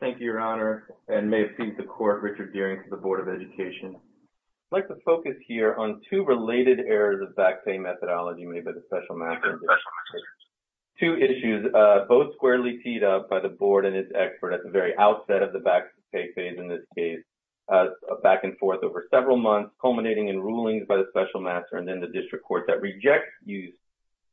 Thank you, Your Honor, and may it please the Court, Richard Deering, for the Board of Education. I'd like to focus here on two related errors of back pay methodology made by the Special Master Industry. Two issues, both squarely teed up by the Board and its expert at the very outset of the back pay phase in this case, back and forth over several months, culminating in rulings by the Special Master and then the District Court that rejects use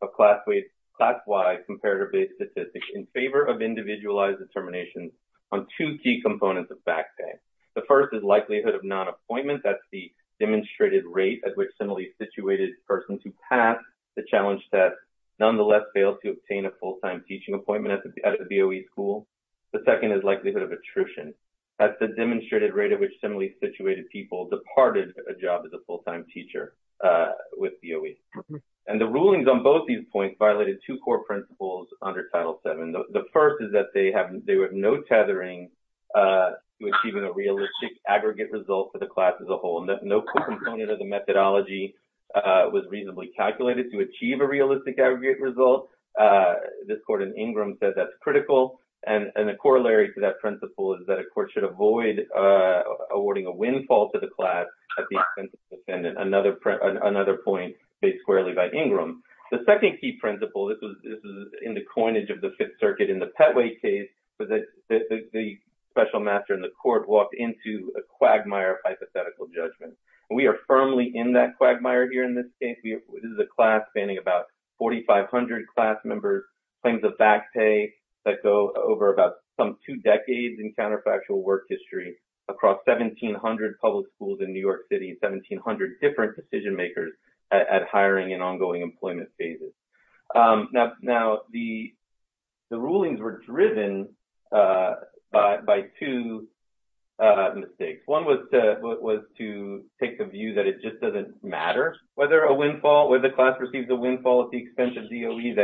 of class-wide comparator-based statistics in favor of individualized determinations on two key components of back pay. The first is likelihood of non-appointment, that's the demonstrated rate at which similarly situated persons who pass the challenge test nonetheless fail to obtain a full-time teaching appointment at the BOE school. The second is likelihood of attrition, that's the demonstrated rate at which similarly situated people departed a job as a full-time teacher with BOE. And the rulings on both these points violated two core principles under Title VII. The first is that they have no tethering to achieving a realistic aggregate result for the class as a whole. No core component of the methodology was reasonably calculated to achieve a realistic aggregate result. This Court in Ingram says that's critical, and the corollary to that principle is that a court should avoid awarding a windfall to the class at the expense of the defendant. Another point made squarely by Ingram. The second key principle, this was in the coinage of the Fifth Circuit in the Petway case where the Special Master and the court walked into a quagmire of hypothetical judgment. We are firmly in that quagmire here in this case. This is a class spanning about 4,500 class members, claims of back pay that go over about some two decades in counterfactual work history across 1,700 public schools in New York City, 1,700 different decision-makers at hiring and ongoing employment phases. Now the rulings were driven by two mistakes. One was to take the view that it just doesn't matter whether a class receives a windfall at the expense of DOE,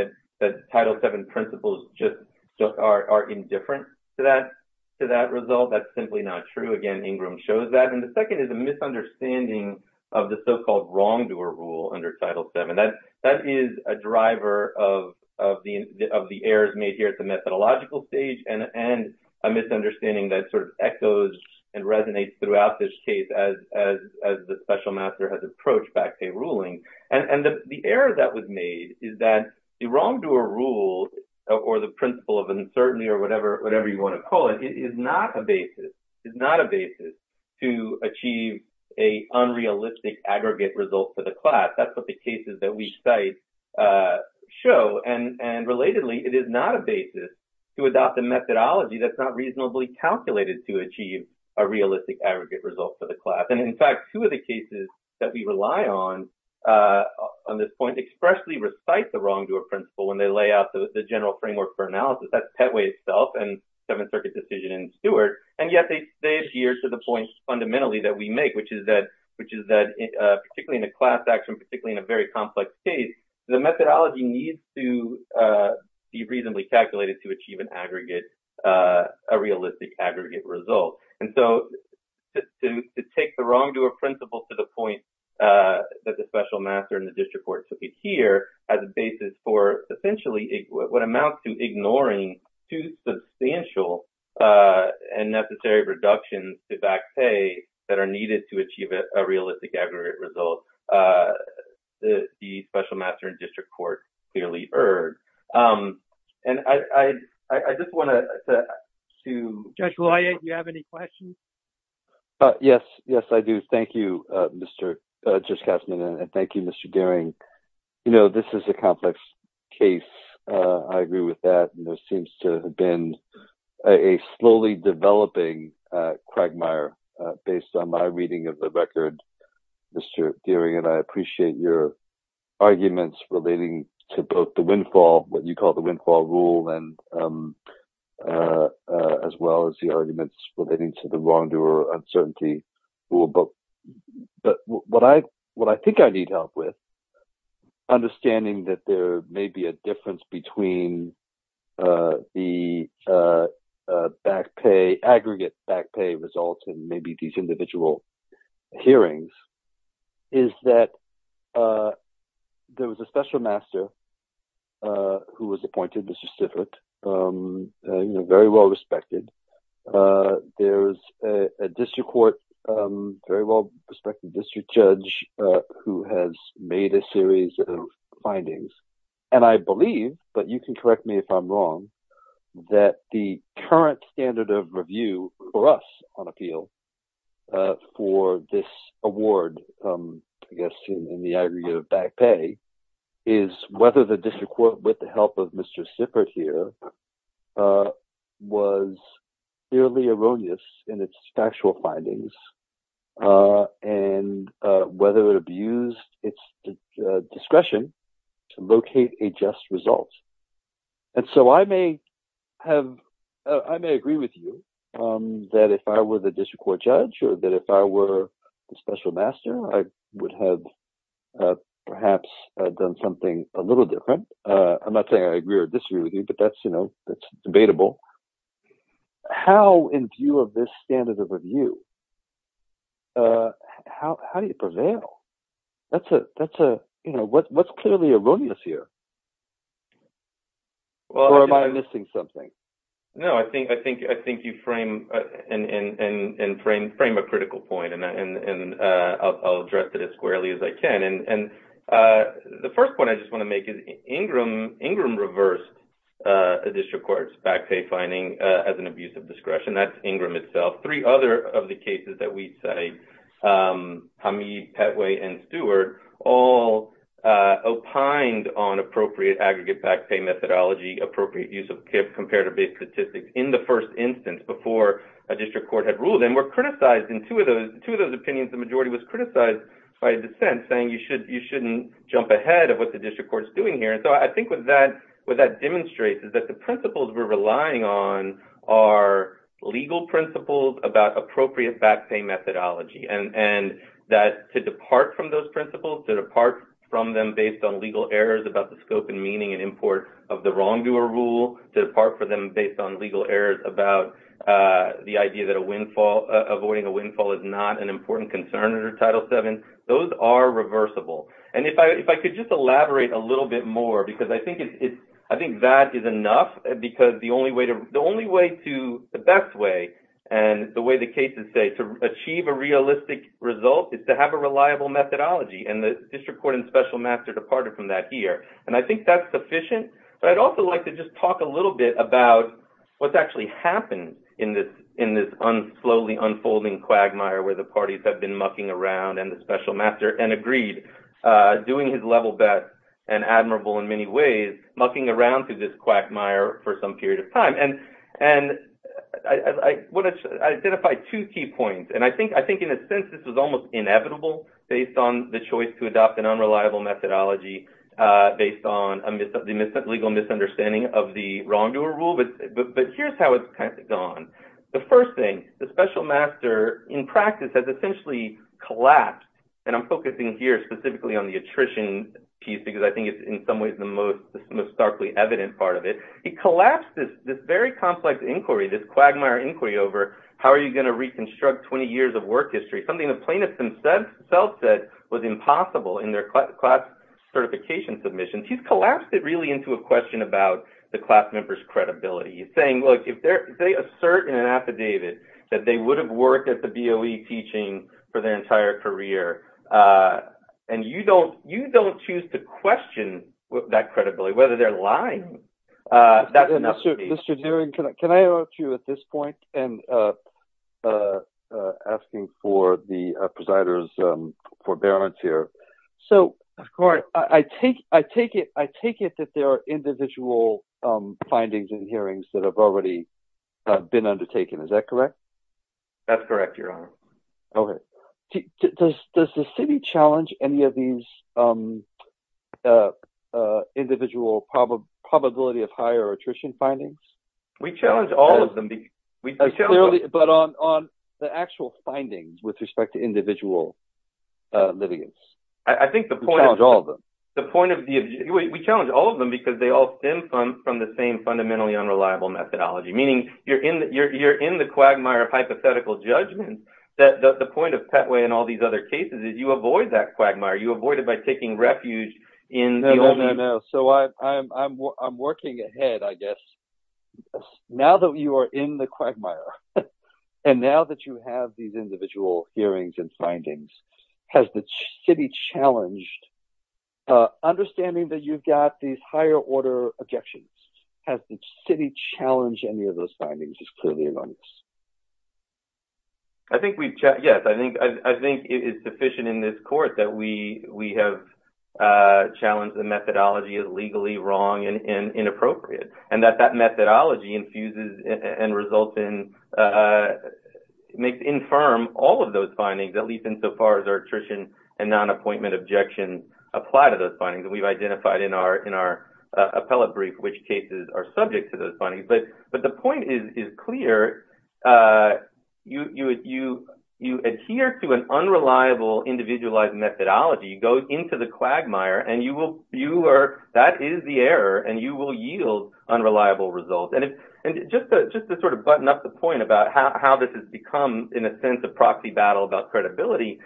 that Title VII principles just are indifferent to that result. That's simply not true. Again, Ingram shows that. And the second is a misunderstanding of the so-called wrongdoer rule under Title VII. That is a driver of the errors made here at the methodological stage and a misunderstanding that sort of echoes and resonates throughout this case as the Special Master has approached back pay ruling. And the error that was made is that the wrongdoer rule or the principle of uncertainty or whatever you want to call it is not a basis to achieve a unrealistic aggregate result for the class. That's what the cases that we cite show. And relatedly, it is not a basis to adopt a methodology that's not reasonably calculated to achieve a realistic aggregate result for the class. And in fact, two of the cases that we rely on, on this point, expressly recite the wrongdoer principle when they lay out the general framework for analysis. That's Pettway itself and Seventh Circuit decision in Stewart. And yet they adhere to the point fundamentally that we make, which is that particularly in a class action, particularly in a very complex case, the methodology needs to be reasonably calculated to achieve an aggregate, a realistic aggregate result. And so, to take the wrongdoer principle to the point that the Special Master and the District Court took it here as a basis for essentially what amounts to ignoring two substantial and necessary reductions to back pay that are needed to achieve a realistic aggregate result, the Special Master and District Court clearly erred. And I just want to... Judge Wyeth, do you have any questions? Yes. Yes, I do. Thank you, Judge Katzmann. And thank you, Mr. Gehring. You know, this is a complex case, I agree with that, and there seems to have been a slowly developing quagmire based on my reading of the record, Mr. Gehring, and I appreciate your arguments relating to both the windfall, what you call the windfall rule, and as well as the arguments relating to the wrongdoer uncertainty rule, but what I think I need help with, understanding that there may be a difference between the aggregate back pay results and maybe these individual hearings, is that there was a Special Master who was There's a district court, very well-respected district judge who has made a series of findings, and I believe, but you can correct me if I'm wrong, that the current standard of review for us on appeal for this award, I guess in the aggregate of back pay, is whether the was clearly erroneous in its factual findings, and whether it abused its discretion to locate a just result, and so I may have, I may agree with you that if I were the district court judge or that if I were the Special Master, I would have perhaps done something a little different. I'm not saying I agree or disagree with you, but that's debatable. How in view of this standard of review, how do you prevail? That's a, you know, what's clearly erroneous here, or am I missing something? No, I think you frame a critical point, and I'll address it as squarely as I can, and the first point I just want to make is Ingram reversed a district court's back pay finding as an abuse of discretion. That's Ingram itself. Three other of the cases that we cite, Hamid, Petway, and Stewart, all opined on appropriate aggregate back pay methodology, appropriate use of comparative-based statistics in the first instance before a district court had ruled, and were criticized in two of those opinions, the majority was criticized by a dissent, saying you shouldn't jump ahead of what the district court's doing here, and so I think what that demonstrates is that the principles we're relying on are legal principles about appropriate back pay methodology, and that to depart from those principles, to depart from them based on legal errors about the scope and meaning and import of the wrongdoer rule, to depart from them based on legal errors about the idea that avoiding a windfall is not an important concern under Title VII, those are reversible, and if I could just elaborate a little bit more, because I think that is enough, because the only way to, the best way, and the way the cases say, to achieve a realistic result is to have a reliable methodology, and the district court and special master departed from that here, and I think that's sufficient, but I'd also like to just talk a little bit about what's actually happened in this slowly unfolding quagmire where the parties have been mucking around, and the special master, and agreed, doing his level best, and admirable in many ways, mucking around through this quagmire for some period of time, and I want to identify two key points, and I think in a sense this was almost inevitable, based on the choice to adopt an unreliable methodology, based on the legal misunderstanding of the wrongdoer rule, but here's how it's gone. The first thing, the special master, in practice, has essentially collapsed, and I'm focusing here specifically on the attrition piece, because I think it's in some ways the most starkly evident part of it, he collapsed this very complex inquiry, this quagmire inquiry over how are you going to reconstruct 20 years of work history, something the plaintiffs themselves said was impossible in their class certification submissions, he's collapsed it really into a question about the class members' credibility, saying, look, if they assert in an affidavit that they would have worked at the BOE teaching for their entire career, and you don't choose to question that credibility, whether they're lying, that's enough. Mr. Doering, can I interrupt you at this point in asking for the presider's forbearance here? Of course. So, I take it that there are individual findings and hearings that have already been undertaken, is that correct? That's correct, your honor. Okay. Does the city challenge any of these individual probability of higher attrition findings? We challenge all of them. But on the actual findings with respect to individual livings? I think the point of... We challenge all of them. The point of the... We challenge all of them because they all stem from the same fundamentally unreliable methodology, meaning you're in the quagmire of hypothetical judgment that the point of Patway and all these other cases is you avoid that quagmire, you avoid it by taking refuge in the... No, no, no. So, I'm working ahead, I guess. Now that you are in the quagmire, and now that you have these individual hearings and findings, has the city challenged... Understanding that you've got these higher order objections, has the city challenged any of those findings is clearly erroneous. I think we've... Yes. I think it's sufficient in this court that we have challenged the methodology as legally wrong and inappropriate, and that that methodology infuses and results in... Makes infirm all of those findings, at least insofar as our attrition and non-appointment objections apply to those findings. We've identified in our appellate brief which cases are subject to those findings. But the point is clear, you adhere to an unreliable individualized methodology, go into the quagmire, and you will... That is the error, and you will yield unreliable results. And just to sort of button up the point about how this has become, in a sense, a proxy battle about credibility,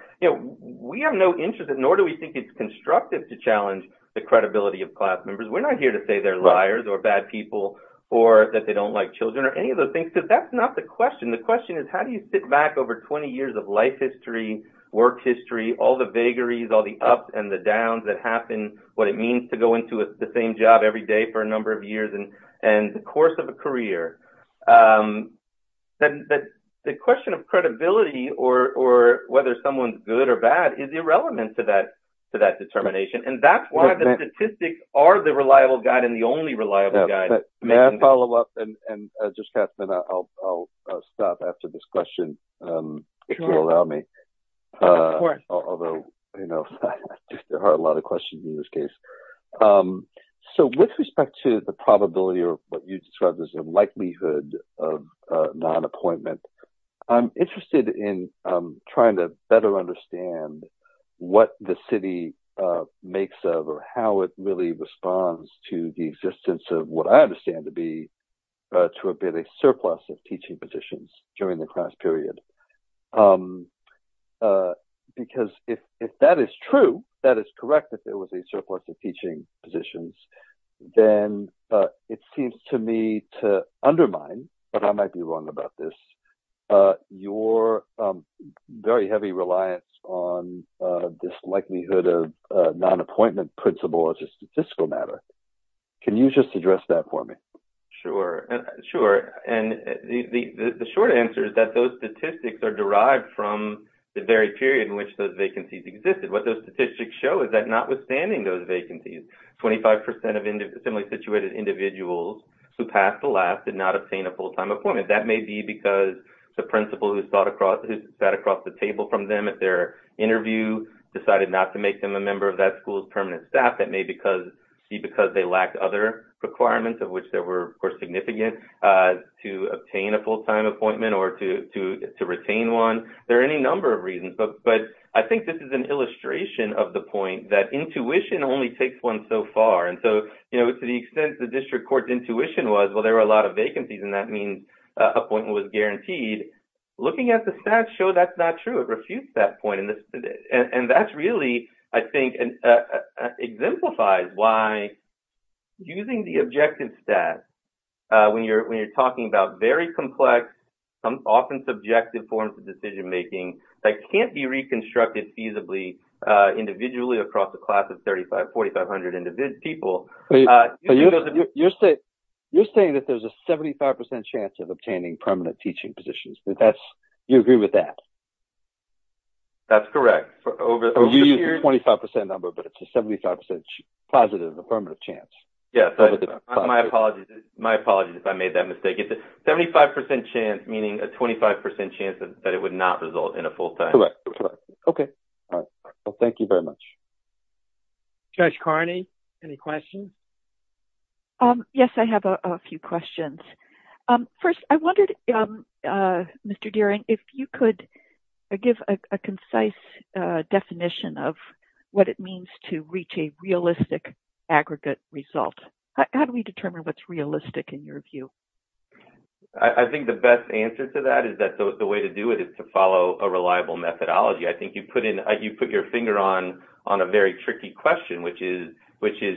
we have no interest, nor do we think it's constructive to challenge the credibility of class members. We're not here to say they're liars or bad people, or that they don't like children, or any of those things, because that's not the question. The question is, how do you sit back over 20 years of life history, work history, all the vagaries, all the ups and the downs that happen, what it means to go into the same job every day for a number of years, and the course of a career? The question of credibility, or whether someone's good or bad, is irrelevant to that determination. And that's why the statistics are the reliable guide, and the only reliable guide. May I follow up? And just a minute, I'll stop after this question, if you'll allow me. Sure. Of course. Although, you know, there are a lot of questions in this case. So with respect to the probability, or what you described as the likelihood of non-appointment, I'm interested in trying to better understand what the city makes of, or how it really responds to the existence of what I understand to be, to a bit, a surplus of teaching positions during the class period. Because if that is true, that is correct, if it was a surplus of teaching positions, then it seems to me to undermine, but I might be wrong about this, your very heavy reliance on this likelihood of non-appointment principle as a statistical matter. Can you just address that for me? Sure. Sure. And the short answer is that those statistics are derived from the very period in which those vacancies existed. What those statistics show is that notwithstanding those vacancies, 25% of similarly situated individuals who passed the last did not obtain a full-time appointment. That may be because the principal who sat across the table from them at their interview decided not to make them a member of that school's permanent staff. That may be because they lacked other requirements, of which there were, of course, significant, to obtain a full-time appointment or to retain one. There are any number of reasons. But I think this is an illustration of the point that intuition only takes one so far. And so, to the extent the district court's intuition was, well, there were a lot of vacancies and that means appointment was guaranteed. Looking at the stats show that's not true, it refutes that point. And that's really, I think, exemplifies why using the objective stats, when you're talking about very complex, often subjective forms of decision-making that can't be reconstructed feasibly individually across a class of 3,500, 4,500 individual people. You're saying that there's a 75% chance of obtaining permanent teaching positions. Do you agree with that? That's correct. You used the 25% number, but it's a 75% positive, a permanent chance. Yes, my apologies if I made that mistake. It's a 75% chance, meaning a 25% chance that it would not result in a full-time. Correct. Okay. All right. Well, thank you very much. Judge Carney, any questions? Yes, I have a few questions. First, I wondered, Mr. Dearing, if you could give a concise definition of what it means to reach a realistic aggregate result. How do we determine what's realistic, in your view? I think the best answer to that is that the way to do it is to follow a reliable methodology. I think you put your finger on a very tricky question, which is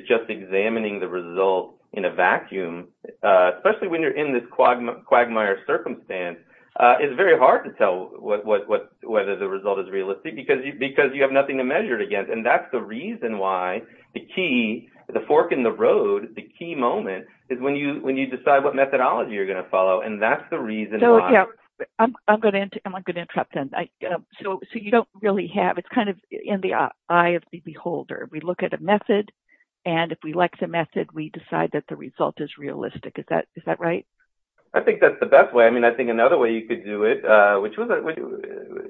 just examining the result in a vacuum, especially when you're in this quagmire circumstance. It's very hard to tell whether the result is realistic, because you have nothing to measure it against. That's the reason why the key, the fork in the road, the key moment, is when you decide what methodology you're going to follow. That's the reason why. I'm going to interrupt then. You don't really have... It's kind of in the eye of the beholder. We look at a method, and if we like the method, we decide that the result is realistic. Is that right? I think that's the best way. I mean, I think another way you could do it,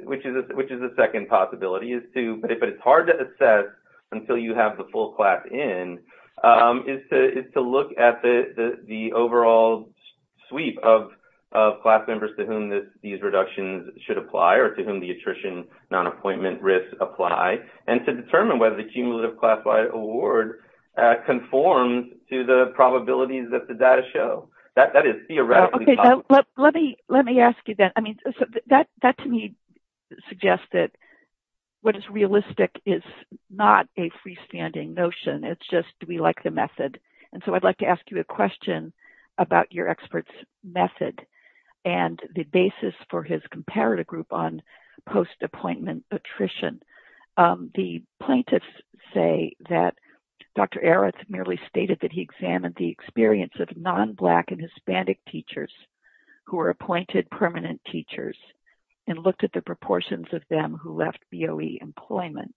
which is a second possibility, is to... But it's hard to assess until you have the full class in, is to look at the overall sweep of class members to whom these reductions should apply, or to whom the attrition non-appointment risks apply, and to determine whether the cumulative class Y award conforms to the probabilities that the data show. That is theoretically possible. Let me ask you that. That, to me, suggests that what is realistic is not a freestanding notion. It's just, do we like the method? I'd like to ask you a question about your expert's method, and the basis for his comparative group on post-appointment attrition. The plaintiffs say that Dr. Areth merely stated that he examined the experience of non-black and Hispanic teachers who were appointed permanent teachers, and looked at the proportions of them who left BOE employment.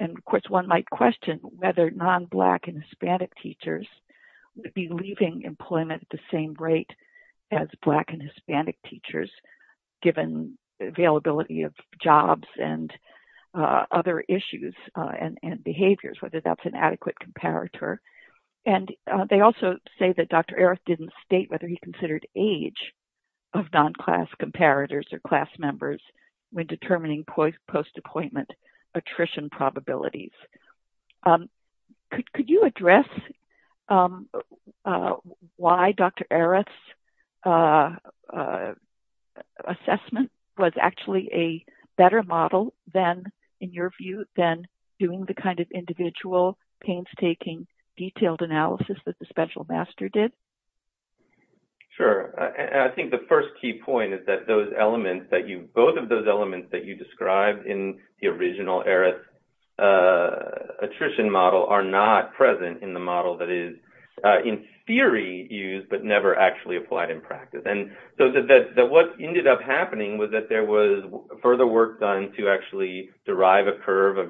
Of course, one might question whether non-black and Hispanic teachers would be leaving employment at the same rate as black and Hispanic teachers, given availability of jobs and other issues and behaviors, whether that's an adequate comparator. And they also say that Dr. Areth didn't state whether he considered age of non-class comparators or class members when determining post-appointment attrition probabilities. Could you address why Dr. Areth's assessment was actually a better model than, in your detailed analysis that the special master did? Sure. And I think the first key point is that those elements that you, both of those elements that you described in the original Areth attrition model are not present in the model that is in theory used, but never actually applied in practice. And so what ended up happening was that there was further work done to actually derive a model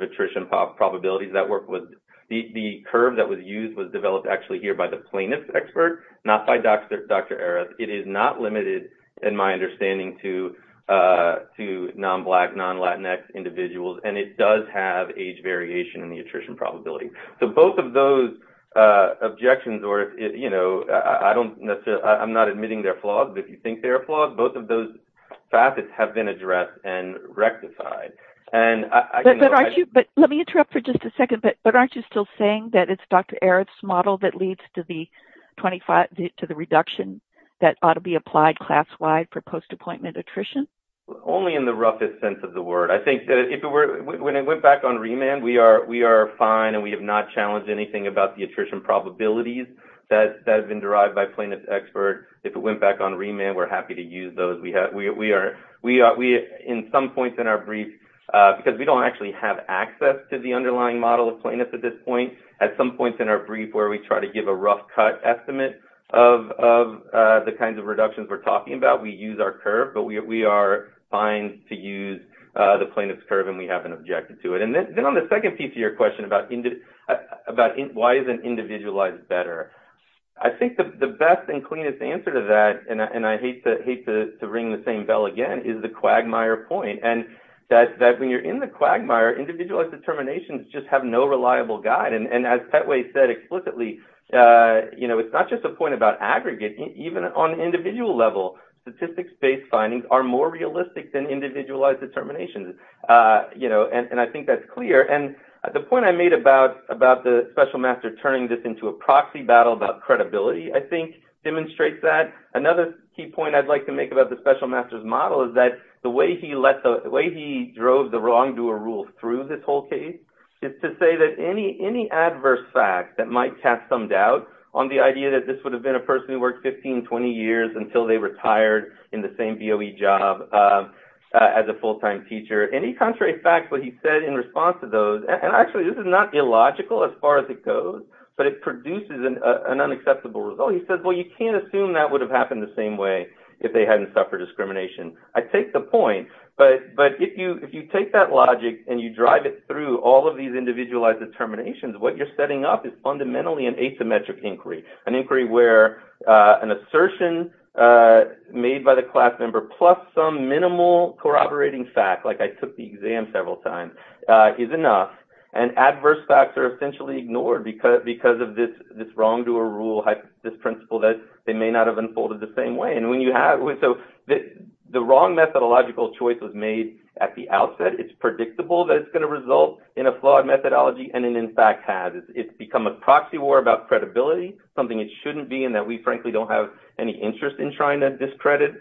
that was used, was developed actually here by the plaintiff expert, not by Dr. Areth. It is not limited, in my understanding, to non-black, non-Latinx individuals. And it does have age variation in the attrition probability. So both of those objections, or if, you know, I don't necessarily, I'm not admitting they're flawed, but if you think they're flawed, both of those facets have been addressed and rectified. But aren't you, but let me interrupt for just a second, but aren't you still saying that it's Dr. Areth's model that leads to the 25, to the reduction that ought to be applied class-wide for post-appointment attrition? Only in the roughest sense of the word. I think that if it were, when it went back on remand, we are fine and we have not challenged anything about the attrition probabilities that have been derived by plaintiff expert. If it went back on remand, we're happy to use those. We are, in some points in our brief, because we don't actually have access to the underlying model of plaintiffs at this point, at some points in our brief where we try to give a rough cut estimate of the kinds of reductions we're talking about, we use our curve. But we are fine to use the plaintiff's curve and we haven't objected to it. And then on the second piece of your question about why isn't individualized better? I think the best and cleanest answer to that, and I hate to ring the same bell again, is the Quagmire point. And that when you're in the Quagmire, individualized determinations just have no reliable guide. And as Petway said explicitly, it's not just a point about aggregate. Even on an individual level, statistics-based findings are more realistic than individualized determinations. And I think that's clear. And the point I made about the special master turning this into a proxy battle about credibility, I think, demonstrates that. Another key point I'd like to make about the special master's model is that the way he drove the wrongdoer rule through this whole case is to say that any adverse fact that might cast some doubt on the idea that this would have been a person who worked 15, 20 years until they retired in the same BOE job as a full-time teacher, any contrary fact that he said in response to those, and actually this is not illogical as far as it goes, but it produces an unacceptable result. He says, well, you can't assume that would have happened the same way if they hadn't suffered discrimination. I take the point, but if you take that logic and you drive it through all of these individualized determinations, what you're setting up is fundamentally an asymmetric inquiry, an inquiry where an assertion made by the class member plus some minimal corroborating fact, like I took the exam several times, is enough, and adverse facts are essentially ignored because of this wrongdoer rule, this principle that they may not have unfolded the same way. And when you have, so the wrong methodological choice was made at the outset. It's predictable that it's going to result in a flawed methodology, and it in fact has. It's become a proxy war about credibility, something it shouldn't be, and that we frankly don't have any interest in trying to discredit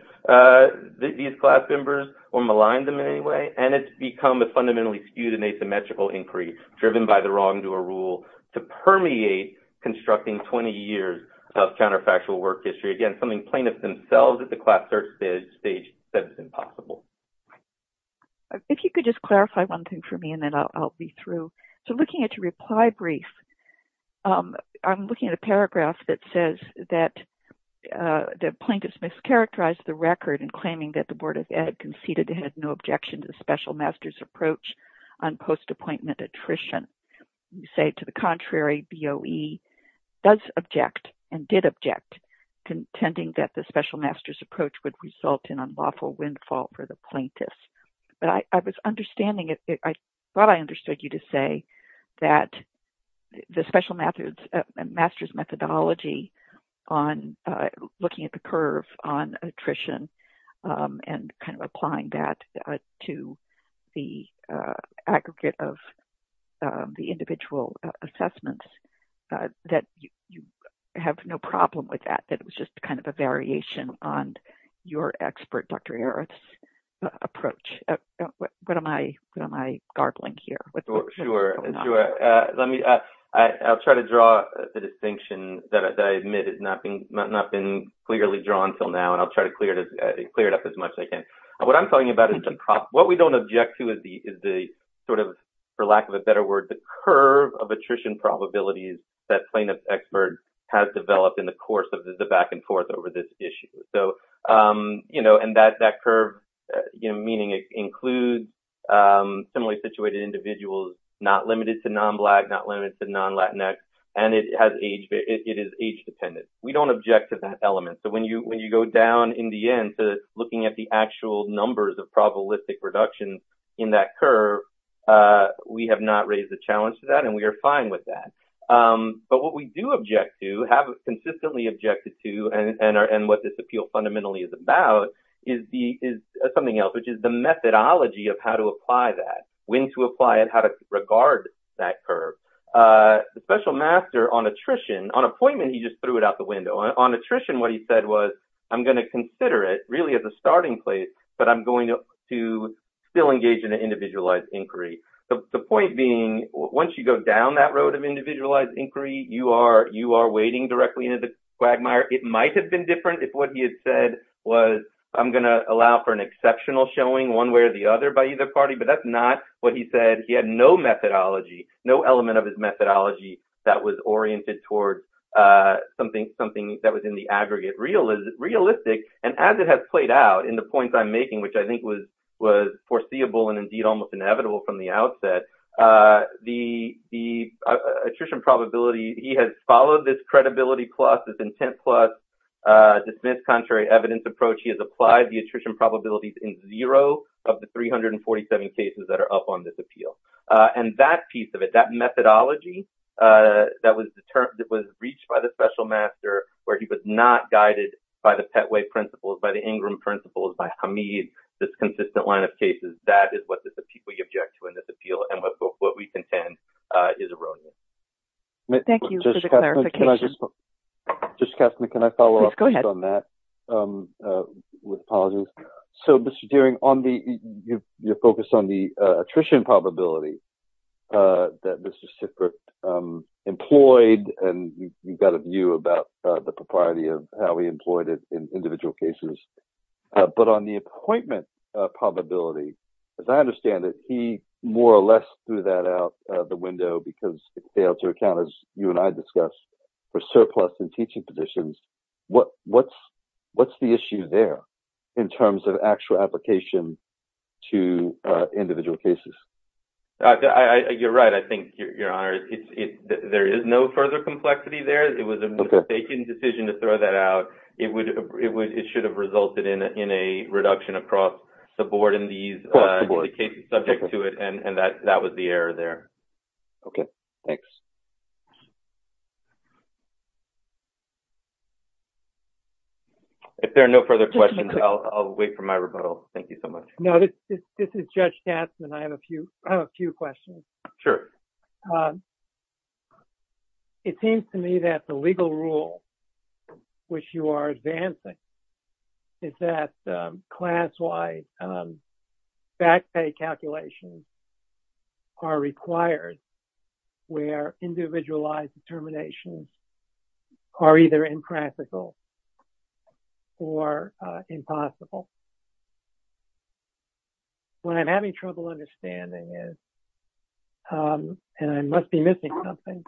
these class members or malign them in any way, and it's become a fundamentally skewed and asymmetrical inquiry driven by the wrongdoer rule to permeate constructing 20 years of counterfactual work history. Again, something plaintiffs themselves at the class search stage said is impossible. If you could just clarify one thing for me, and then I'll be through. So looking at your reply brief, I'm looking at a paragraph that says that the plaintiffs mischaracterized the record in claiming that the Board of Ed conceded it had no objection to the special master's approach on post-appointment attrition. You say, to the contrary, BOE does object and did object, contending that the special master's approach would result in unlawful windfall for the plaintiffs. But I thought I understood you to say that the special master's methodology on looking at the curve on attrition and kind of applying that to the aggregate of the individual assessments, that you have no problem with that, that it was just kind of a variation on your expert, Dr. Arath's approach. What am I garbling here? Sure, sure. I'll try to draw the distinction that I admit has not been clearly drawn until now, and I'll try to clear it up as much as I can. What I'm talking about is the problem. What we don't object to is the sort of, for lack of a better word, the curve of attrition probabilities that plaintiff's expert has developed in the course of the back and forth over this issue. So, you know, and that curve, you know, meaning it includes similarly situated individuals, not limited to non-Black, not limited to non-Latinx, and it is age dependent. We don't object to that element. So, when you go down in the end to looking at the actual numbers of probabilistic reductions in that curve, we have not raised a challenge to that, and we are fine with that. But what we do object to, have consistently objected to, and what this appeal fundamentally is about is something else, which is the methodology of how to apply that, when to apply it, how to regard that curve. The special master on attrition, on appointment, he just threw it out the window. On attrition, what he said was, I'm going to consider it really as a starting place, but I'm going to still engage in an individualized inquiry. The point being, once you go down that road of individualized inquiry, you are wading directly into the quagmire. It might have been different if what he had said was, I'm going to allow for an exceptional showing one way or the other by either party, but that's not what he said. He had no methodology, no element of his methodology that was oriented towards something that was in the aggregate realistic, and as it has played out in the points I'm making, which I think was foreseeable and indeed almost inevitable from the outset, the attrition probability, he has followed this credibility plus, this intent plus, dismissed contrary evidence approach. He has applied the attrition probabilities in zero of the 347 cases that are up on this appeal, and that piece of it, that methodology that was reached by the special master where he was not guided by the Petway principles, by the Ingram principles, by Hamid, this consistent line of cases, that is what we object to in this appeal, and what we contend is erroneous. Thank you for the clarification. Judge Kastner, can I follow up on that? Yes, go ahead. With apologies. So, Mr. Dearing, you're focused on the attrition probability that Mr. Sickert employed, and you've got a view about the propriety of how he employed it in individual cases, but on the appointment probability, as I understand it, he more or less threw that out the window because it failed to account, as you and I discussed, for surplus in teaching positions. What's the issue there in terms of actual application to individual cases? You're right. Your Honor, there is no further complexity there. It was a mistaken decision to throw that out. It should have resulted in a reduction across the board in these cases subject to it, and that was the error there. Okay, thanks. If there are no further questions, I'll wait for my rebuttal. Thank you so much. No, this is Judge Kastner, and I have a few questions. Sure. It seems to me that the legal rule which you are advancing is that class-wide back pay calculations are required where individualized determinations are either impractical or impossible. What I'm having trouble understanding is, and I must be missing something,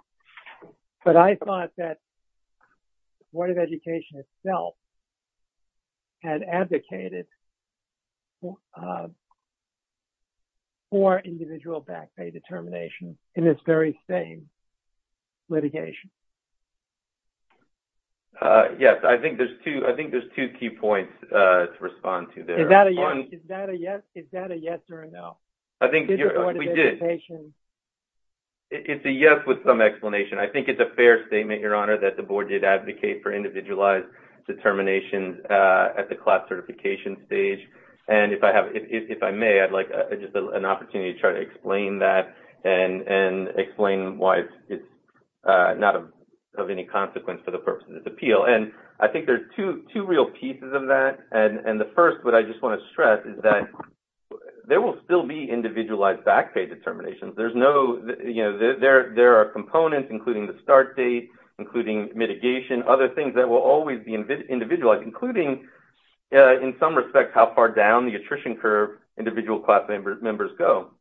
but I thought that the Board of Education itself had advocated for individual back pay determination in this very same litigation. Yes, I think there's two key points to respond to. Is that a yes or a no? I think it's a yes with some explanation. I think it's a fair statement, Your Honor, that the Board did advocate for individualized determinations at the class certification stage, and if I may, I'd like just an opportunity to try to explain that and explain why it's not of any consequence for the purpose of this appeal. I think there are two real pieces of that, and the first, what I just want to stress is that there will still be individualized back pay determinations. There are components, including the start date, including mitigation, other things that will always be individualized, including, in some respects, how far down the attrition curve individual class members go.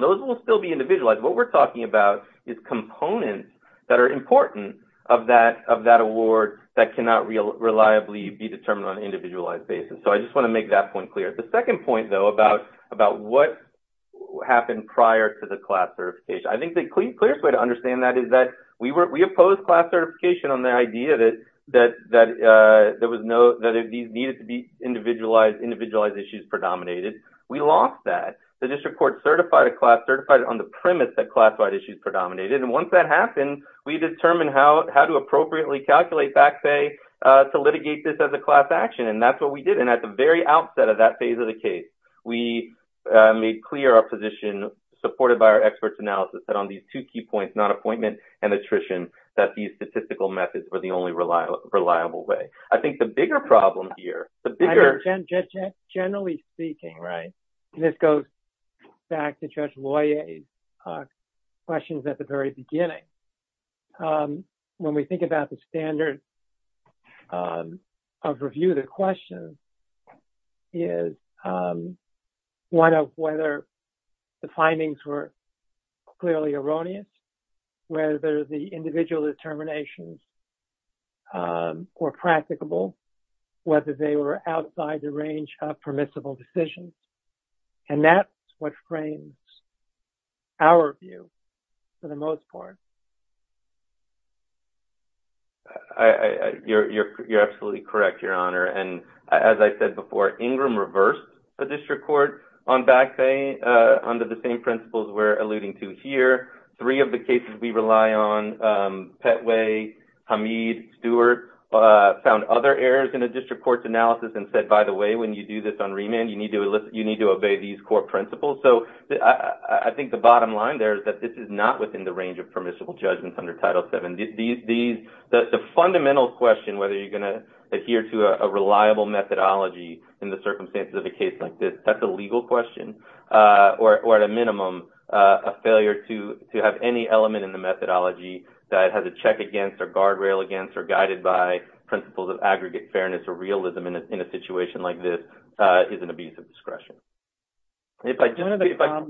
Those will still be individualized. What we're talking about is components that are important of that award that cannot reliably be determined on an individualized basis. So I just want to make that point clear. The second point, though, about what happened prior to the class certification. I think the clearest way to understand that is that we opposed class certification on the idea that these needed to be individualized issues predominated. We lost that. The district court certified a class, certified it on the premise that class-wide issues predominated. And once that happened, we determined how to appropriately calculate back pay to litigate this as a class action. And that's what we did. And at the very outset of that phase of the case, we made clear our position, supported by our experts' analysis, that on these two key points, not appointment and attrition, that these statistical methods were the only reliable way. I think the bigger problem here, the bigger... Back to Judge Loyer's questions at the very beginning. When we think about the standard of review, the question is one of whether the findings were clearly erroneous, whether the individual determinations were practicable, whether they were outside the range of permissible decisions. And that's what frames our view, for the most part. You're absolutely correct, Your Honor. And as I said before, Ingram reversed the district court on back pay under the same principles we're alluding to here. Three of the cases we rely on, Petway, Hamid, Stewart, found other errors in the district court's analysis and said, by the way, when you do this on remand, you need to obey these core principles. So I think the bottom line there is that this is not within the range of permissible judgments under Title VII. The fundamental question, whether you're going to adhere to a reliable methodology in the circumstances of a case like this, that's a legal question. Or at a minimum, a failure to have any element in the methodology that has a check against or guardrail against or guided by principles of aggregate fairness or realism in a situation like this is an abuse of discretion. And if I just see if I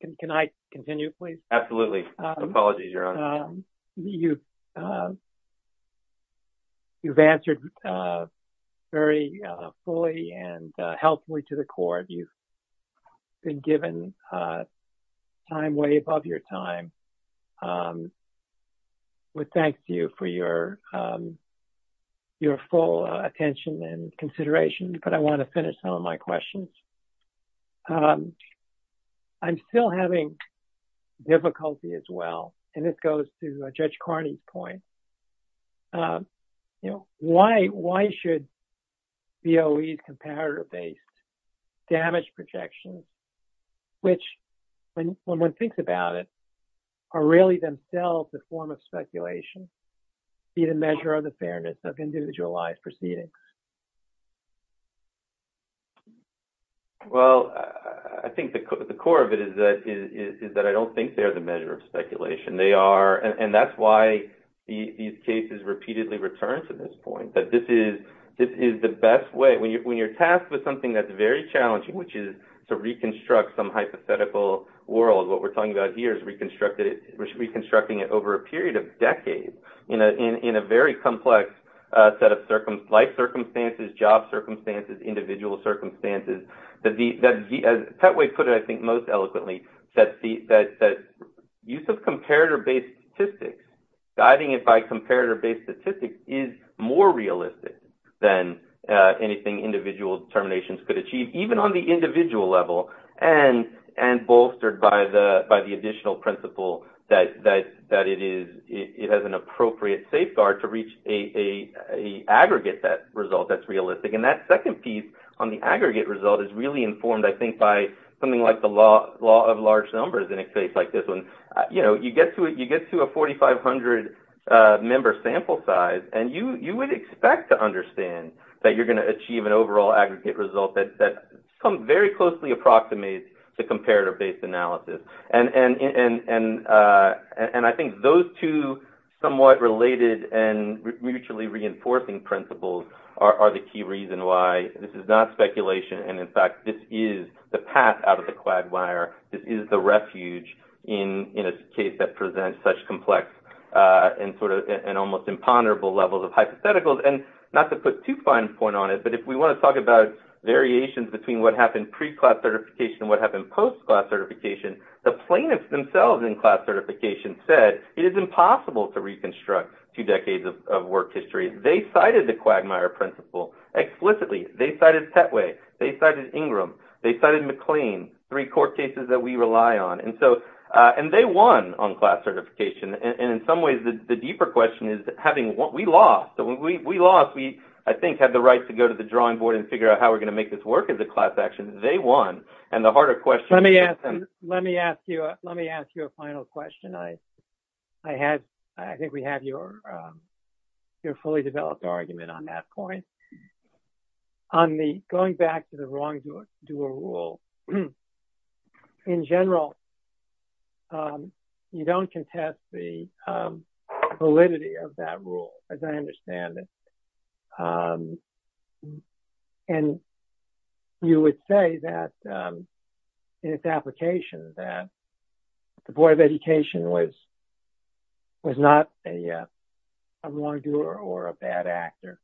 can continue, please. Absolutely. Apologies, Your Honor. You've answered very fully and helpfully to the court. You've been given time way above your time. We thank you for your full attention and consideration. But I want to finish some of my questions. I'm still having difficulty as well. And this goes to Judge Carney's point. Why should BOE's comparator-based damage projections, which, when one thinks about it, are really themselves a form of speculation, be the measure of the fairness of individualized proceedings? Well, I think the core of it is that I don't think they're the measure of speculation. And that's why these cases repeatedly return to this point, that this is the best way. When you're tasked with something that's very challenging, which is to reconstruct some hypothetical world, what we're talking about here is reconstructing it over a period of decades in a very complex set of life circumstances, job circumstances, individual circumstances. As Petway put it, I think most eloquently, that use of comparator-based statistics, guiding it by comparator-based statistics, is more realistic than anything individual determinations could achieve, even on the individual level. And bolstered by the additional principle that it has an appropriate safeguard to reach an aggregate result that's realistic. And that second piece on the aggregate result is really informed, I think, by something like the law of large numbers in a case like this one. You get to a 4,500-member sample size, and you would expect to understand that you're very closely approximating the comparator-based analysis. And I think those two somewhat related and mutually reinforcing principles are the key reason why this is not speculation. And in fact, this is the path out of the quagmire. This is the refuge in a case that presents such complex and almost imponderable levels of hypotheticals. And not to put too fine a point on it, but if we want to talk about variations between what happened pre-class certification and what happened post-class certification, the plaintiffs themselves in class certification said it is impossible to reconstruct two decades of work history. They cited the quagmire principle explicitly. They cited Pettway. They cited Ingram. They cited McLean, three court cases that we rely on. And so – and they won on class certification. And in some ways, the deeper question is having – we lost. So we lost. We, I think, had the right to go to the drawing board and figure out how we're going to make this work as a class action. They won. And the harder question – Let me ask you – let me ask you a final question. I had – I think we have your fully developed argument on that point. On the – going back to the wrongdoer rule, in general, you don't contest the validity of that rule, as I understand it. And you would say that in its application that the Board of Education was not a wrongdoer or a bad actor.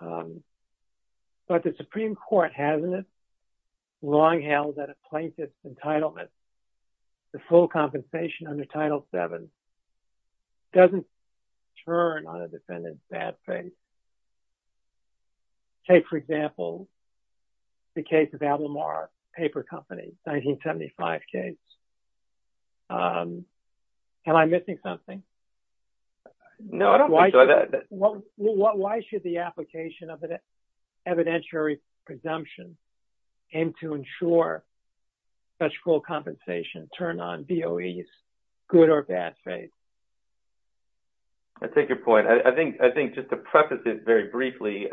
But the Supreme Court hasn't long held that a plaintiff's entitlement, the full compensation under Title VII, doesn't turn on a defendant's bad face. Take, for example, the case of Ablamar Paper Company, 1975 case. Am I missing something? No, I don't think so. Why should the application of an evidentiary presumption aim to ensure such full compensation turn on BOE's good or bad face? I take your point. I think just to preface it very briefly,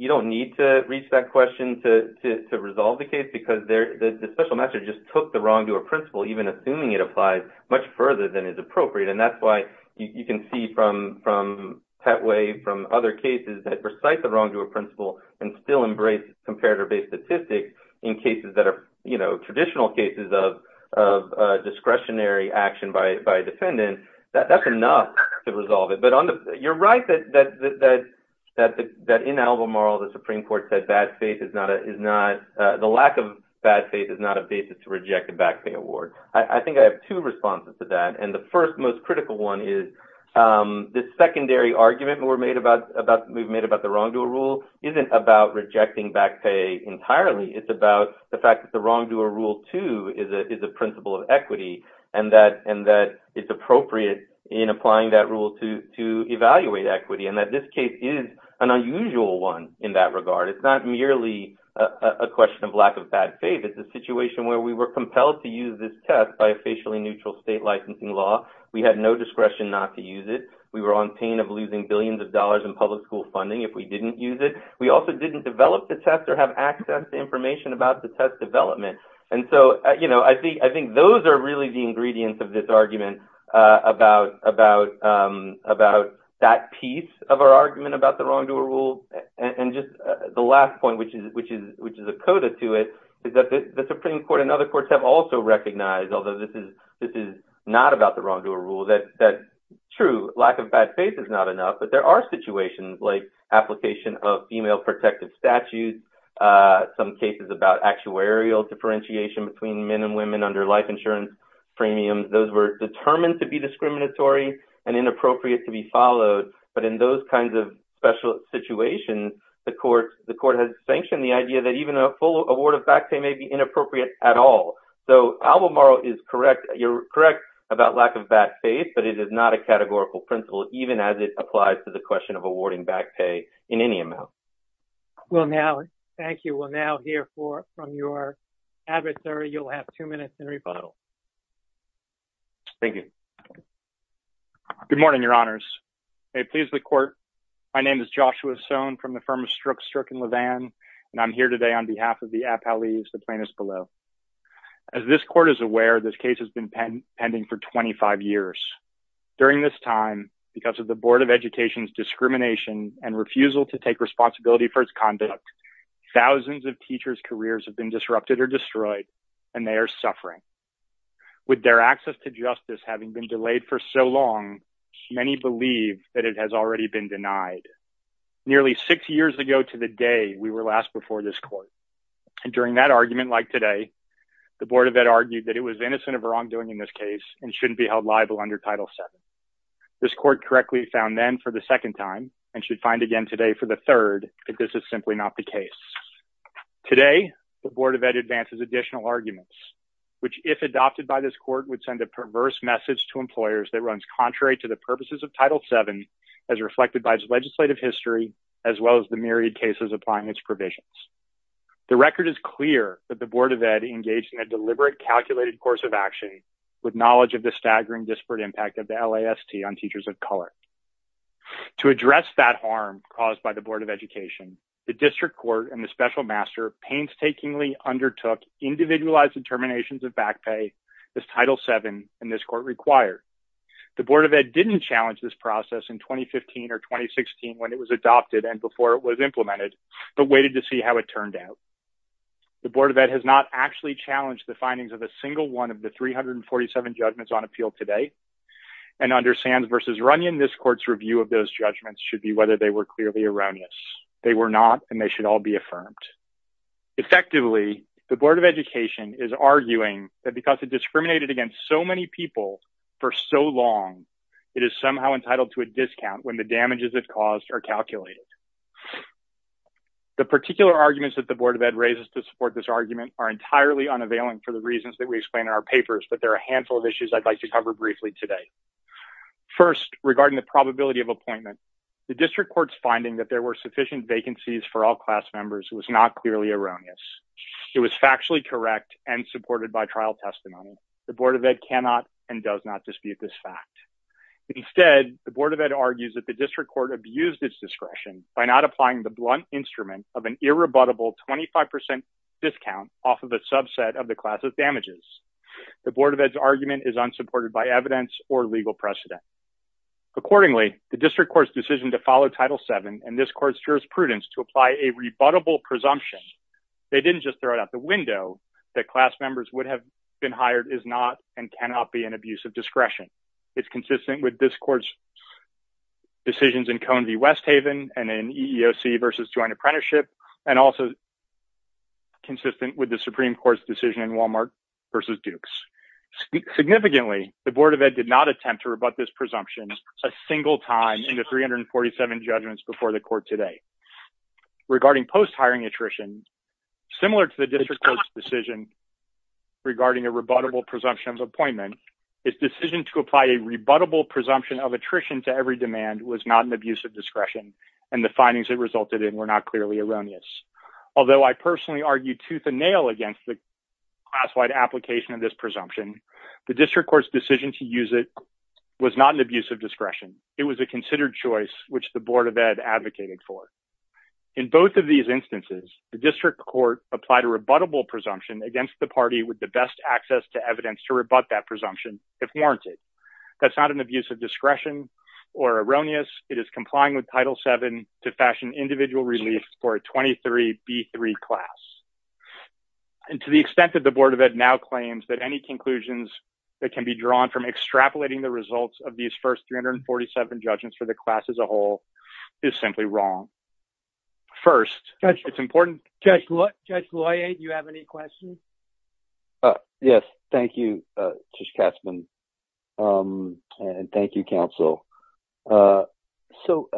you don't need to reach that question to resolve the case because the special measure just took the wrongdoer principle, even assuming it applies, much further than is appropriate. And that's why you can see from Pettway, from other cases that recite the wrongdoer principle and still embrace comparator-based statistics in cases that are – you know, traditional cases of discretionary action by a defendant, that's enough to resolve it. But you're right that in Albemarle, the Supreme Court said bad face is not – the lack of bad face is not a basis to reject a back pay award. I think I have two responses to that. And the first, most critical one is this secondary argument we've made about the wrongdoer rule isn't about rejecting back pay entirely. It's about the fact that the wrongdoer rule, too, is a principle of equity and that it's appropriate in applying that rule to evaluate equity and that this case is an unusual one in that regard. It's not merely a question of lack of bad face. It's a situation where we were compelled to use this test by a facially neutral state licensing law. We had no discretion not to use it. We were on pain of losing billions of dollars in public school funding if we didn't use it. We also didn't develop the test or have access to information about the test development. And so I think those are really the ingredients of this argument about that piece of our argument about the wrongdoer rule. And just the last point, which is a coda to it, is that the Supreme Court and other courts have also recognized, although this is not about the wrongdoer rule, that true, lack of bad face is not enough. But there are situations like application of female protective statutes, some cases about actuarial differentiation between men and women under life insurance premiums. Those were determined to be discriminatory and inappropriate to be followed. But in those kinds of special situations, the court has sanctioned the idea that even a full award of back pay may be inappropriate at all. So, Albemarle is correct. You're correct about lack of bad face, but it is not a categorical principle, even as it applies to the question of awarding back pay in any amount. Well, now, thank you. We'll now hear from your adversary. You'll have two minutes in rebuttal. Thank you. Good morning, Your Honors. May it please the Court. My name is Joshua Sohn from the firm of Strzok and Levin, and I'm here today on behalf of the Appellees, the plaintiffs below. As this Court is aware, this case has been pending for 25 years. During this time, because of the Board of Education's discrimination and refusal to take responsibility for its conduct, thousands of teachers' careers have been disrupted or destroyed, and they are suffering. With their access to justice having been delayed for so long, many believe that it has already been denied. Nearly six years ago to the day we were last before this Court, and during that argument like today, the Board of Ed argued that it was innocent of wrongdoing in this case and shouldn't be held liable under Title VII. This Court correctly found then for the second time and should find again today for the third that this is simply not the case. Today, the Board of Ed advances additional arguments, which, if adopted by this Court, would send a perverse message to employers that runs contrary to the purposes of Title VII as reflected by its legislative history as well as the myriad cases applying its provisions. The record is clear that the Board of Ed engaged in a deliberate, calculated course of action with knowledge of the staggering disparate impact of the LAST on teachers of color. To address that harm caused by the Board of Education, the District Court and the Special Master painstakingly undertook individualized determinations of back pay as Title VII and this Court required. The Board of Ed didn't challenge this process in 2015 or 2016 when it was adopted and before it was implemented, but waited to see how it turned out. The Board of Ed has not actually challenged the findings of a single one of the 347 judgments on appeal today and under Sands v. Runyon, this Court's review of those judgments should be whether they were clearly erroneous. They were not and they should all be affirmed. Effectively, the Board of Education is arguing that because it discriminated against so many people for so long, it is somehow entitled to a discount when the damages it caused are calculated. The particular arguments that the Board of Ed raises to support this argument are entirely unavailing for the reasons that we explain in our papers, but there are a handful of issues I'd like to cover briefly today. First, regarding the probability of appointment, the District Court's finding that there were sufficient vacancies for all class members was not clearly erroneous. It was factually correct and supported by trial testimony. The Board of Ed cannot and does not dispute this fact. Instead, the Board of Ed argues that the District Court abused its discretion and the Board of Education by not applying the blunt instrument of an irrebuttable 25% discount off of a subset of the class's damages. The Board of Ed's argument is unsupported by evidence or legal precedent. Accordingly, the District Court's decision to follow Title VII and this Court's jurisprudence to apply a rebuttable presumption, they didn't just throw it out the window, that class members would have been hired is not and cannot be an abuse of discretion. It's consistent with this Court's decisions in Cone v. Westhaven and in EEOC v. Joint Apprenticeship and also consistent with the Supreme Court's decision in Walmart v. Dukes. Significantly, the Board of Ed did not attempt to rebut this presumption a single time in the 347 judgments before the Court today. Regarding post-hiring attrition, similar to the District Court's decision regarding a rebuttable presumption of attrition to every demand was not an abuse of discretion and the findings it resulted in were not clearly erroneous. Although I personally argued tooth and nail against the class-wide application of this presumption, the District Court's decision to use it was not an abuse of discretion. It was a considered choice, which the Board of Ed advocated for. In both of these instances, the District Court applied a rebuttable presumption against the That's not an abuse of discretion or erroneous. It is complying with Title VII to fashion individual relief for a 23B3 class. And to the extent that the Board of Ed now claims that any conclusions that can be drawn from extrapolating the results of these first 347 judgments for the class as a whole is simply wrong. First, it's important- Judge Loyer, do you have any questions? Yes. Thank you, Judge Katzmann. And thank you, Counsel. So,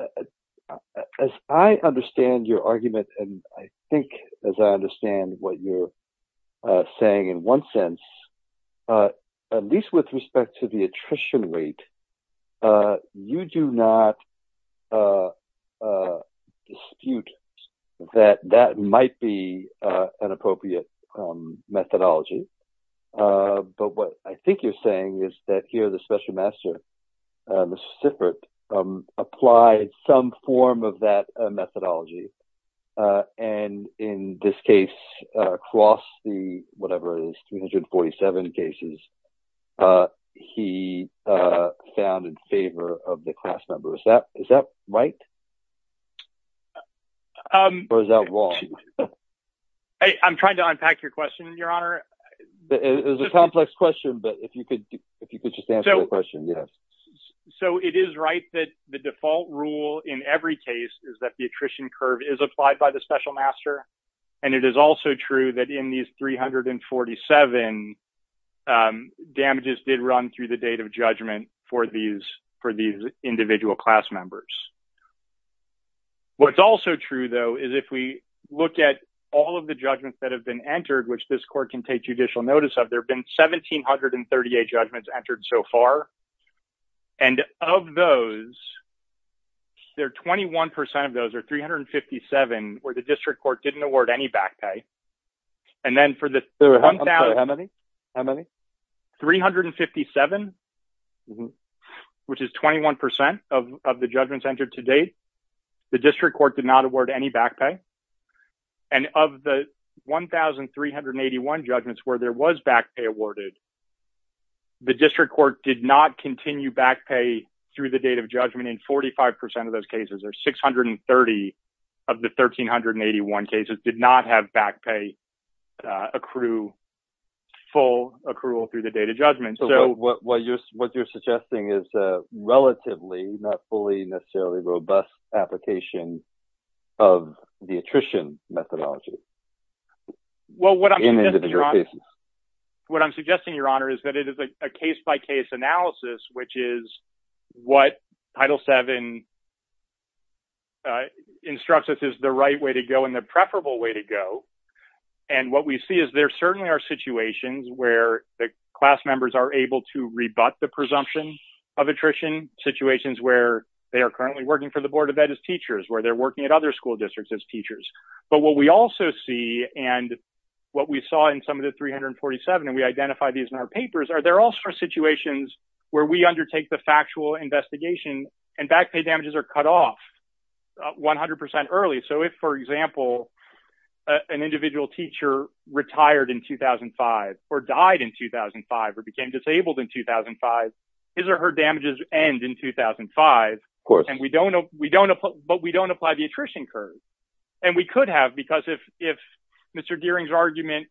as I understand your argument, and I think as I understand what you're saying in one sense, at least with respect to the attrition rate, you do not dispute that that might be an appropriate methodology. But what I think you're saying is that here the Special Master, Mr. Sifrit, applied some form of that methodology. And in this case, across the whatever it is, 347 cases, he found in favor of the class number. Is that right? Or is that wrong? I'm trying to unpack your question, Your Honor. It's a complex question, but if you could just answer the question, yes. So, it is right that the default rule in every case is that the attrition curve is applied by the Special Master. And it is also true that in these 347, damages did run through the date of judgment for these individual class members. What's also true, though, is if we look at all of the judgments that have been entered, which this court can take judicial notice of, there have been 1738 judgments entered so far. And of those, there are 21% of those, or 357, where the district court didn't award any back pay. And then for the- How many? How many? 357, which is 21% of the judgments entered to date, the district court did not award any back pay. And of the 1,381 judgments where there was back pay awarded, the district court did not continue back pay through the date of judgment in 45% of those cases, or 630 of the 1,381 cases did not have back pay accrue full accrual through the date of judgment. So, what you're suggesting is a relatively, not fully, necessarily robust application of the attrition methodology in individual cases. Well, what I'm suggesting, Your Honor, what I'm suggesting, Your Honor, is that it is a case-by-case analysis, which is what Title VII instructs us is the right way to go and the preferable way to go. And what we see is there certainly are situations where the class members are able to rebut the presumption of attrition, situations where they are currently working for the Board of Teachers, where they're working at other school districts as teachers. But what we also see, and what we saw in some of the 347, and we identified these in our papers, are there also are situations where we undertake the factual investigation and back pay damages are cut off 100% early. So, if, for example, an individual teacher retired in 2005 or died in 2005 or became disabled in 2005, his or her damages end in 2005. Of course. And we don't, but we don't apply the attrition curve. And we could have, because if Mr. Gearing's argument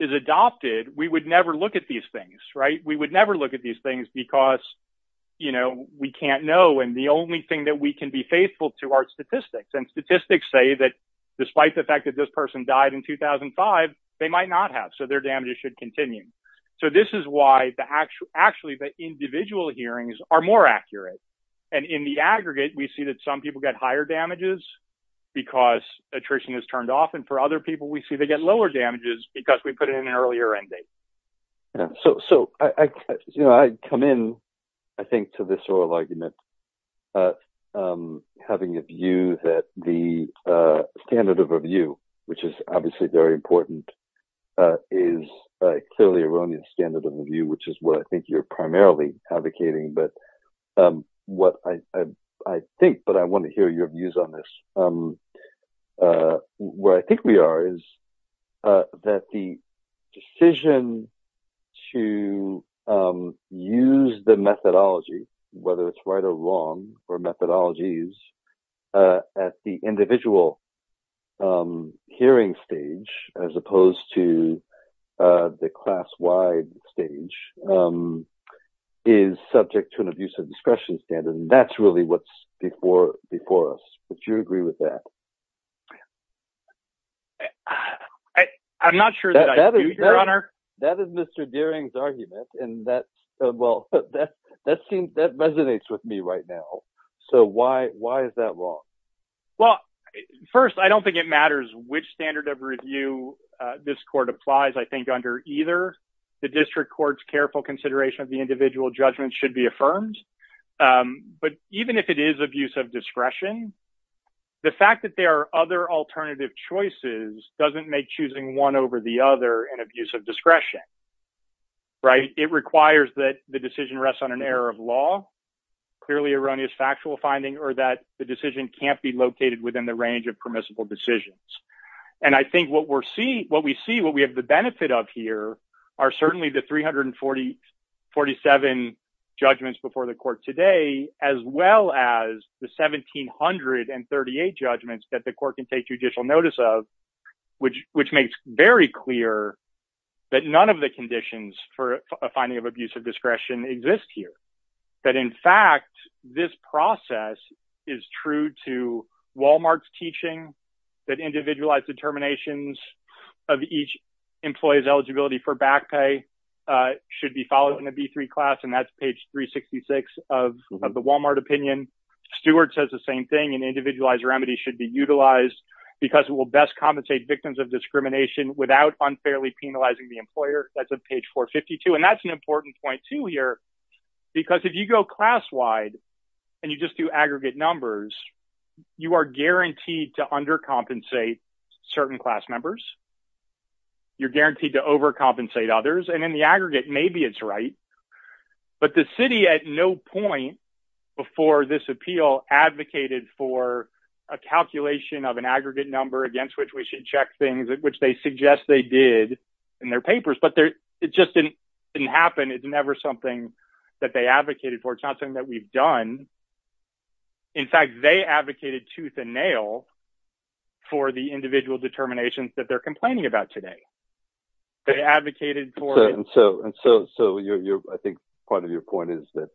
is adopted, we would never look at these things, right? We would never look at these things because, you know, we can't know. And the only thing that we can be faithful to are statistics. And statistics say that despite the fact that this person died in 2005, they might not have, so their damages should continue. So, this is why actually the individual hearings are more accurate. And in the aggregate, we see that some people get higher damages because attrition is turned off. And for other people, we see they get lower damages because we put it in an earlier end date. So, you know, I come in, I think, to this oral argument, having a view that the standard of review, which is obviously very important, is a clearly erroneous standard of review, which is what I think you're primarily advocating. But what I think, but I want to hear your views on this, where I think we are is that the decision to use the methodology, whether it's right or wrong, or methodologies, at the individual hearing stage, as opposed to the class-wide stage, is subject to an abuse of discretion standard. And that's really what's before us. Would you agree with that? I'm not sure that I do, Your Honor. That is Mr. Deering's argument. And that, well, that resonates with me right now. So, why is that wrong? Well, first, I don't think it matters which standard of review this court applies. I think under either, the district court's careful consideration of the individual judgment should be affirmed. But even if it is abuse of discretion, the fact that there are other alternative choices doesn't make choosing one over the other an abuse of discretion, right? It requires that the decision rests on an error of law, clearly erroneous factual finding, or that the decision can't be located within the range of permissible decisions. And I think what we see, what we have the benefit of here, are certainly the 347 judgments before the court today, as well as the 1,738 judgments that the court can take judicial notice of, which makes very clear that none of the conditions for a finding of abuse of discretion exist here. That, in fact, this process is true to Walmart's teaching that individualized determinations of each employee's eligibility for back pay should be followed in a B3 class, and that's page 366 of the Walmart opinion. Stewart says the same thing, an individualized remedy should be utilized because it will best compensate victims of discrimination without unfairly penalizing the employer. That's at page 452. And that's an important point, too, here, because if you go class-wide and you just do aggregate numbers, you are guaranteed to undercompensate certain class members. You're guaranteed to overcompensate others. And in the aggregate, maybe it's right. But the city at no point before this appeal advocated for a calculation of an aggregate number against which we should check things, which they suggest they did in their papers. But it just didn't happen. It's never something that they advocated for. It's not something that we've done. In fact, they advocated tooth and nail for the individual determinations that they're complaining about today. They advocated for it. And so I think part of your point is that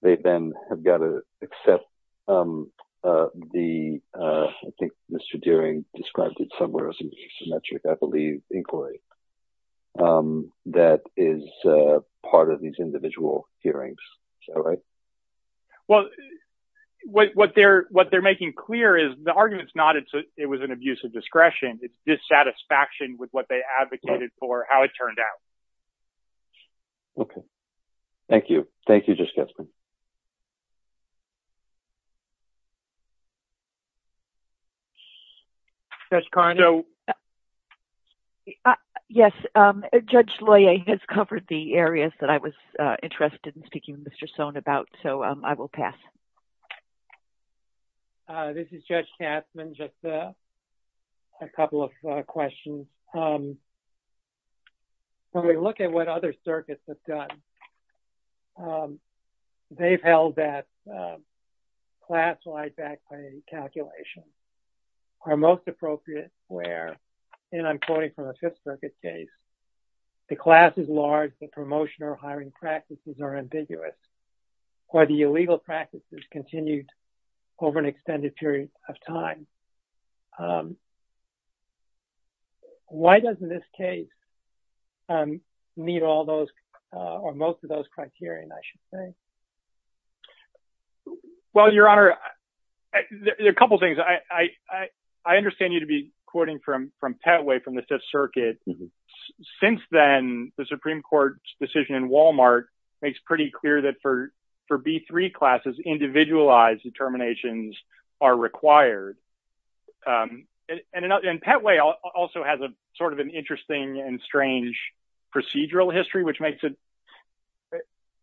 they then have got to accept the, I think Mr. Dearing described it somewhere as an asymmetric, I believe, inquiry. That is part of these individual hearings. Is that right? Well, what they're making clear is the argument is not it was an abuse of discretion. It's dissatisfaction with what they advocated for, how it turned out. Okay. Thank you. Thank you, Judge Getsman. Judge Carney? Yes. Judge Loyer has covered the areas that I was interested in speaking with Mr. Sohn about. So I will pass. This is Judge Getsman. Just a couple of questions. When we look at what other circuits have done, they've held that class-wide back pay calculations are most appropriate where, and I'm quoting from a Fifth Circuit case, the class is large, the promotion or hiring practices are ambiguous, or the illegal practices continued over an extended period of time. Why doesn't this case meet all those or most of those criteria, I should say? Well, Your Honor, there are a couple of things. I understand you to be quoting from Pettway from the Fifth Circuit. Since then, the Supreme Court's decision in Walmart makes pretty clear that for B-3 classes, individualized determinations are required. And Pettway also has sort of an interesting and strange procedural history, which makes it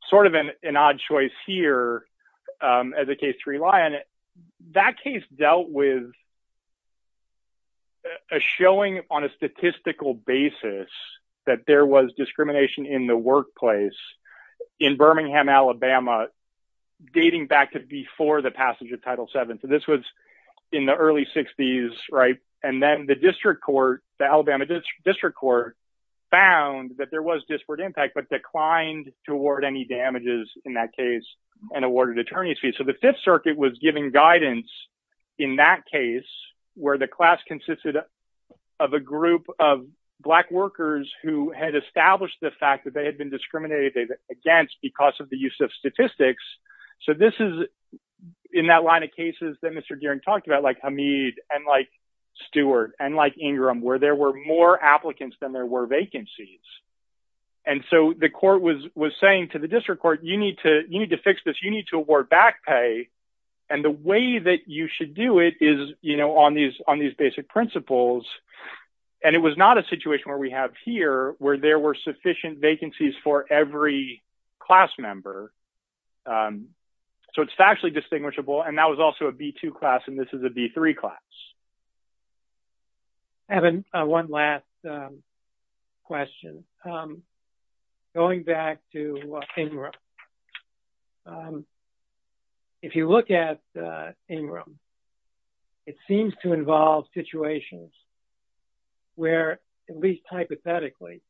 sort of an odd choice here as a case to rely on. That case dealt with a showing on a statistical basis that there was discrimination in the workplace in Birmingham, Alabama, dating back to before the passage of Title VII. So this was in the early 60s, right? And then the Alabama District Court found that there was disparate impact, but declined to award any damages in that case and awarded attorneys fees. The Fifth Circuit was giving guidance in that case where the class consisted of a group of Black workers who had established the fact that they had been discriminated against because of the use of statistics. So this is in that line of cases that Mr. Gearing talked about, like Hamid, and like Stewart, and like Ingram, where there were more applicants than there were vacancies. And so the court was saying to the District Court, you need to fix this. You need to award back pay. And the way that you should do it is, you know, on these basic principles. And it was not a situation where we have here where there were sufficient vacancies for every class member. So it's factually distinguishable. And that was also a B-2 class and this is a B-3 class. I have one last question. Um, going back to Ingram. Um, if you look at Ingram, it seems to involve situations where, at least hypothetically,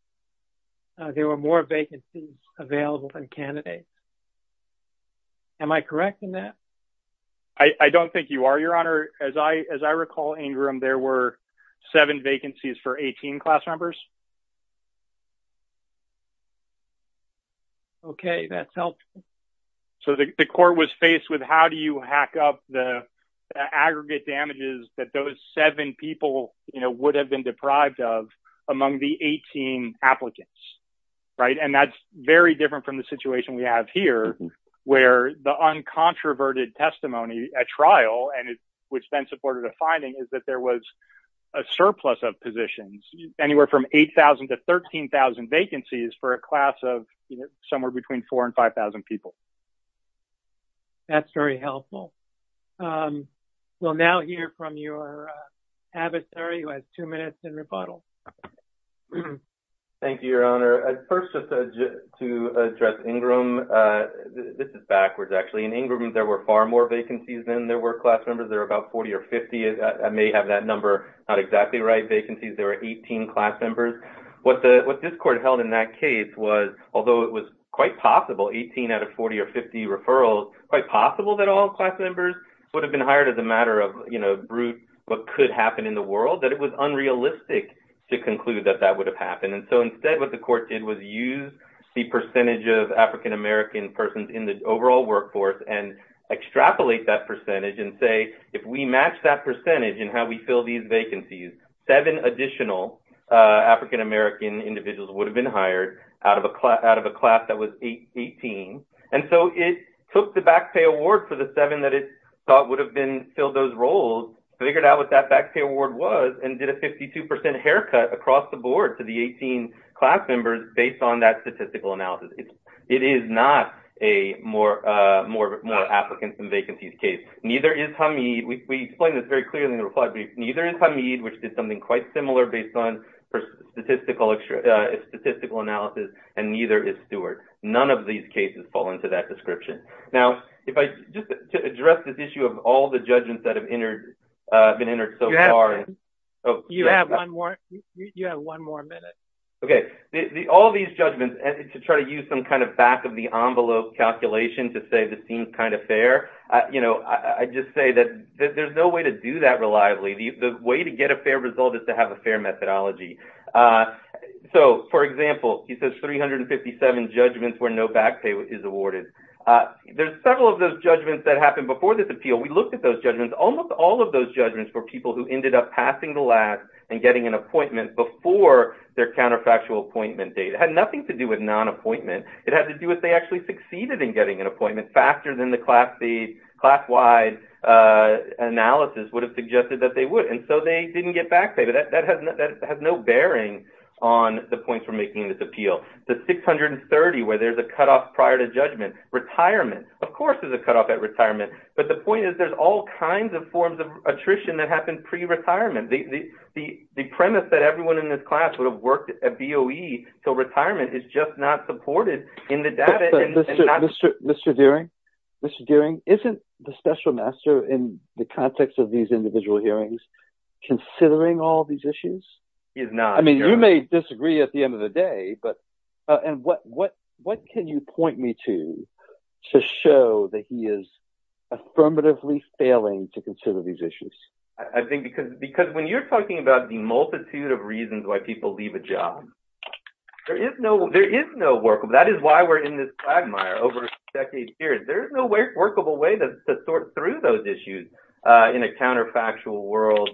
there were more vacancies available than candidates. Am I correct in that? I don't think you are, Your Honor. As I recall, Ingram, there were seven vacancies for 18 class members. Okay, that's helpful. So the court was faced with how do you hack up the aggregate damages that those seven people, you know, would have been deprived of among the 18 applicants, right? And that's very different from the situation we have here, where the uncontroverted testimony at trial, and it supported a finding, is that there was a surplus of positions, anywhere from 8,000 to 13,000 vacancies for a class of, you know, somewhere between 4,000 and 5,000 people. That's very helpful. We'll now hear from your adversary, who has two minutes in rebuttal. Thank you, Your Honor. First, just to address Ingram, this is backwards, actually. In Ingram, there were far more vacancies than there were class members. There were about 40 or 50. I may have that number not exactly right, vacancies. There were 18 class members. What this court held in that case was, although it was quite possible, 18 out of 40 or 50 referrals, quite possible that all class members would have been hired as a matter of, you know, brute, what could happen in the world, that it was unrealistic to conclude that that would have happened. And so, instead, what the court did was use the percentage of African-American persons in the overall workforce and extrapolate that percentage and say, if we match that percentage in how we fill these vacancies, seven additional African-American individuals would have been hired out of a class that was 18. And so, it took the back pay award for the seven that it thought would have been filled those roles, figured out what that back pay award was, and did a 52% haircut across the board to the 18 class members based on that statistical analysis. It is not a more applicants and vacancies case. Neither is Hameed. We explained this very clearly in the reply brief. Neither is Hameed, which did something quite similar based on statistical analysis, and neither is Stewart. None of these cases fall into that description. Now, just to address this issue of all the all these judgments and to try to use some kind of back of the envelope calculation to say this seems kind of fair, you know, I just say that there's no way to do that reliably. The way to get a fair result is to have a fair methodology. So, for example, he says 357 judgments where no back pay is awarded. There's several of those judgments that happened before this appeal. We looked at those judgments. Almost all of those judgments were people who ended up passing the their counterfactual appointment date. It had nothing to do with non-appointment. It had to do with they actually succeeded in getting an appointment faster than the class wide analysis would have suggested that they would, and so they didn't get back pay, but that has no bearing on the points we're making in this appeal. The 630 where there's a cutoff prior to judgment, retirement, of course there's a cutoff at retirement, but the point is there's all kinds of forms of attrition that happen pre-retirement. The premise that everyone in this class would have worked at BOE until retirement is just not supported in the data. Mr. Dearing, isn't the special master in the context of these individual hearings considering all these issues? He is not. I mean, you may disagree at the end of the day, but what can you point me to to show that he is affirmatively failing to consider these issues? I think because when you're talking about the multitude of reasons why people leave a job, there is no workable. That is why we're in this quagmire over decades here. There's no workable way to sort through those issues in a counterfactual world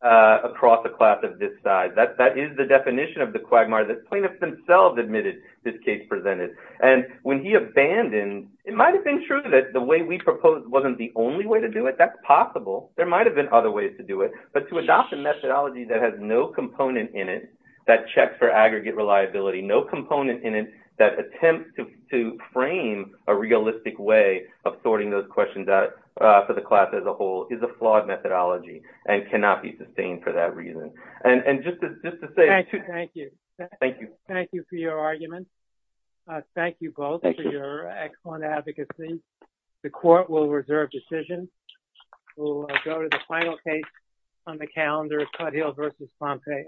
across the class of this side. That is the definition of the quagmire that plaintiffs themselves admitted this case presented, and when he abandoned, it might have been true that the way we proposed wasn't the only way to do it. That's possible. There might have been other ways to do it, but to adopt a methodology that has no component in it, that checks for aggregate reliability, no component in it that attempts to frame a realistic way of sorting those questions out for the class as a whole is a flawed methodology and cannot be sustained for that reason. Thank you for your argument. Thank you both for your excellent advocacy. The court will reserve decision. We'll go to the final case on the calendar, Cuthill v. Pompeo.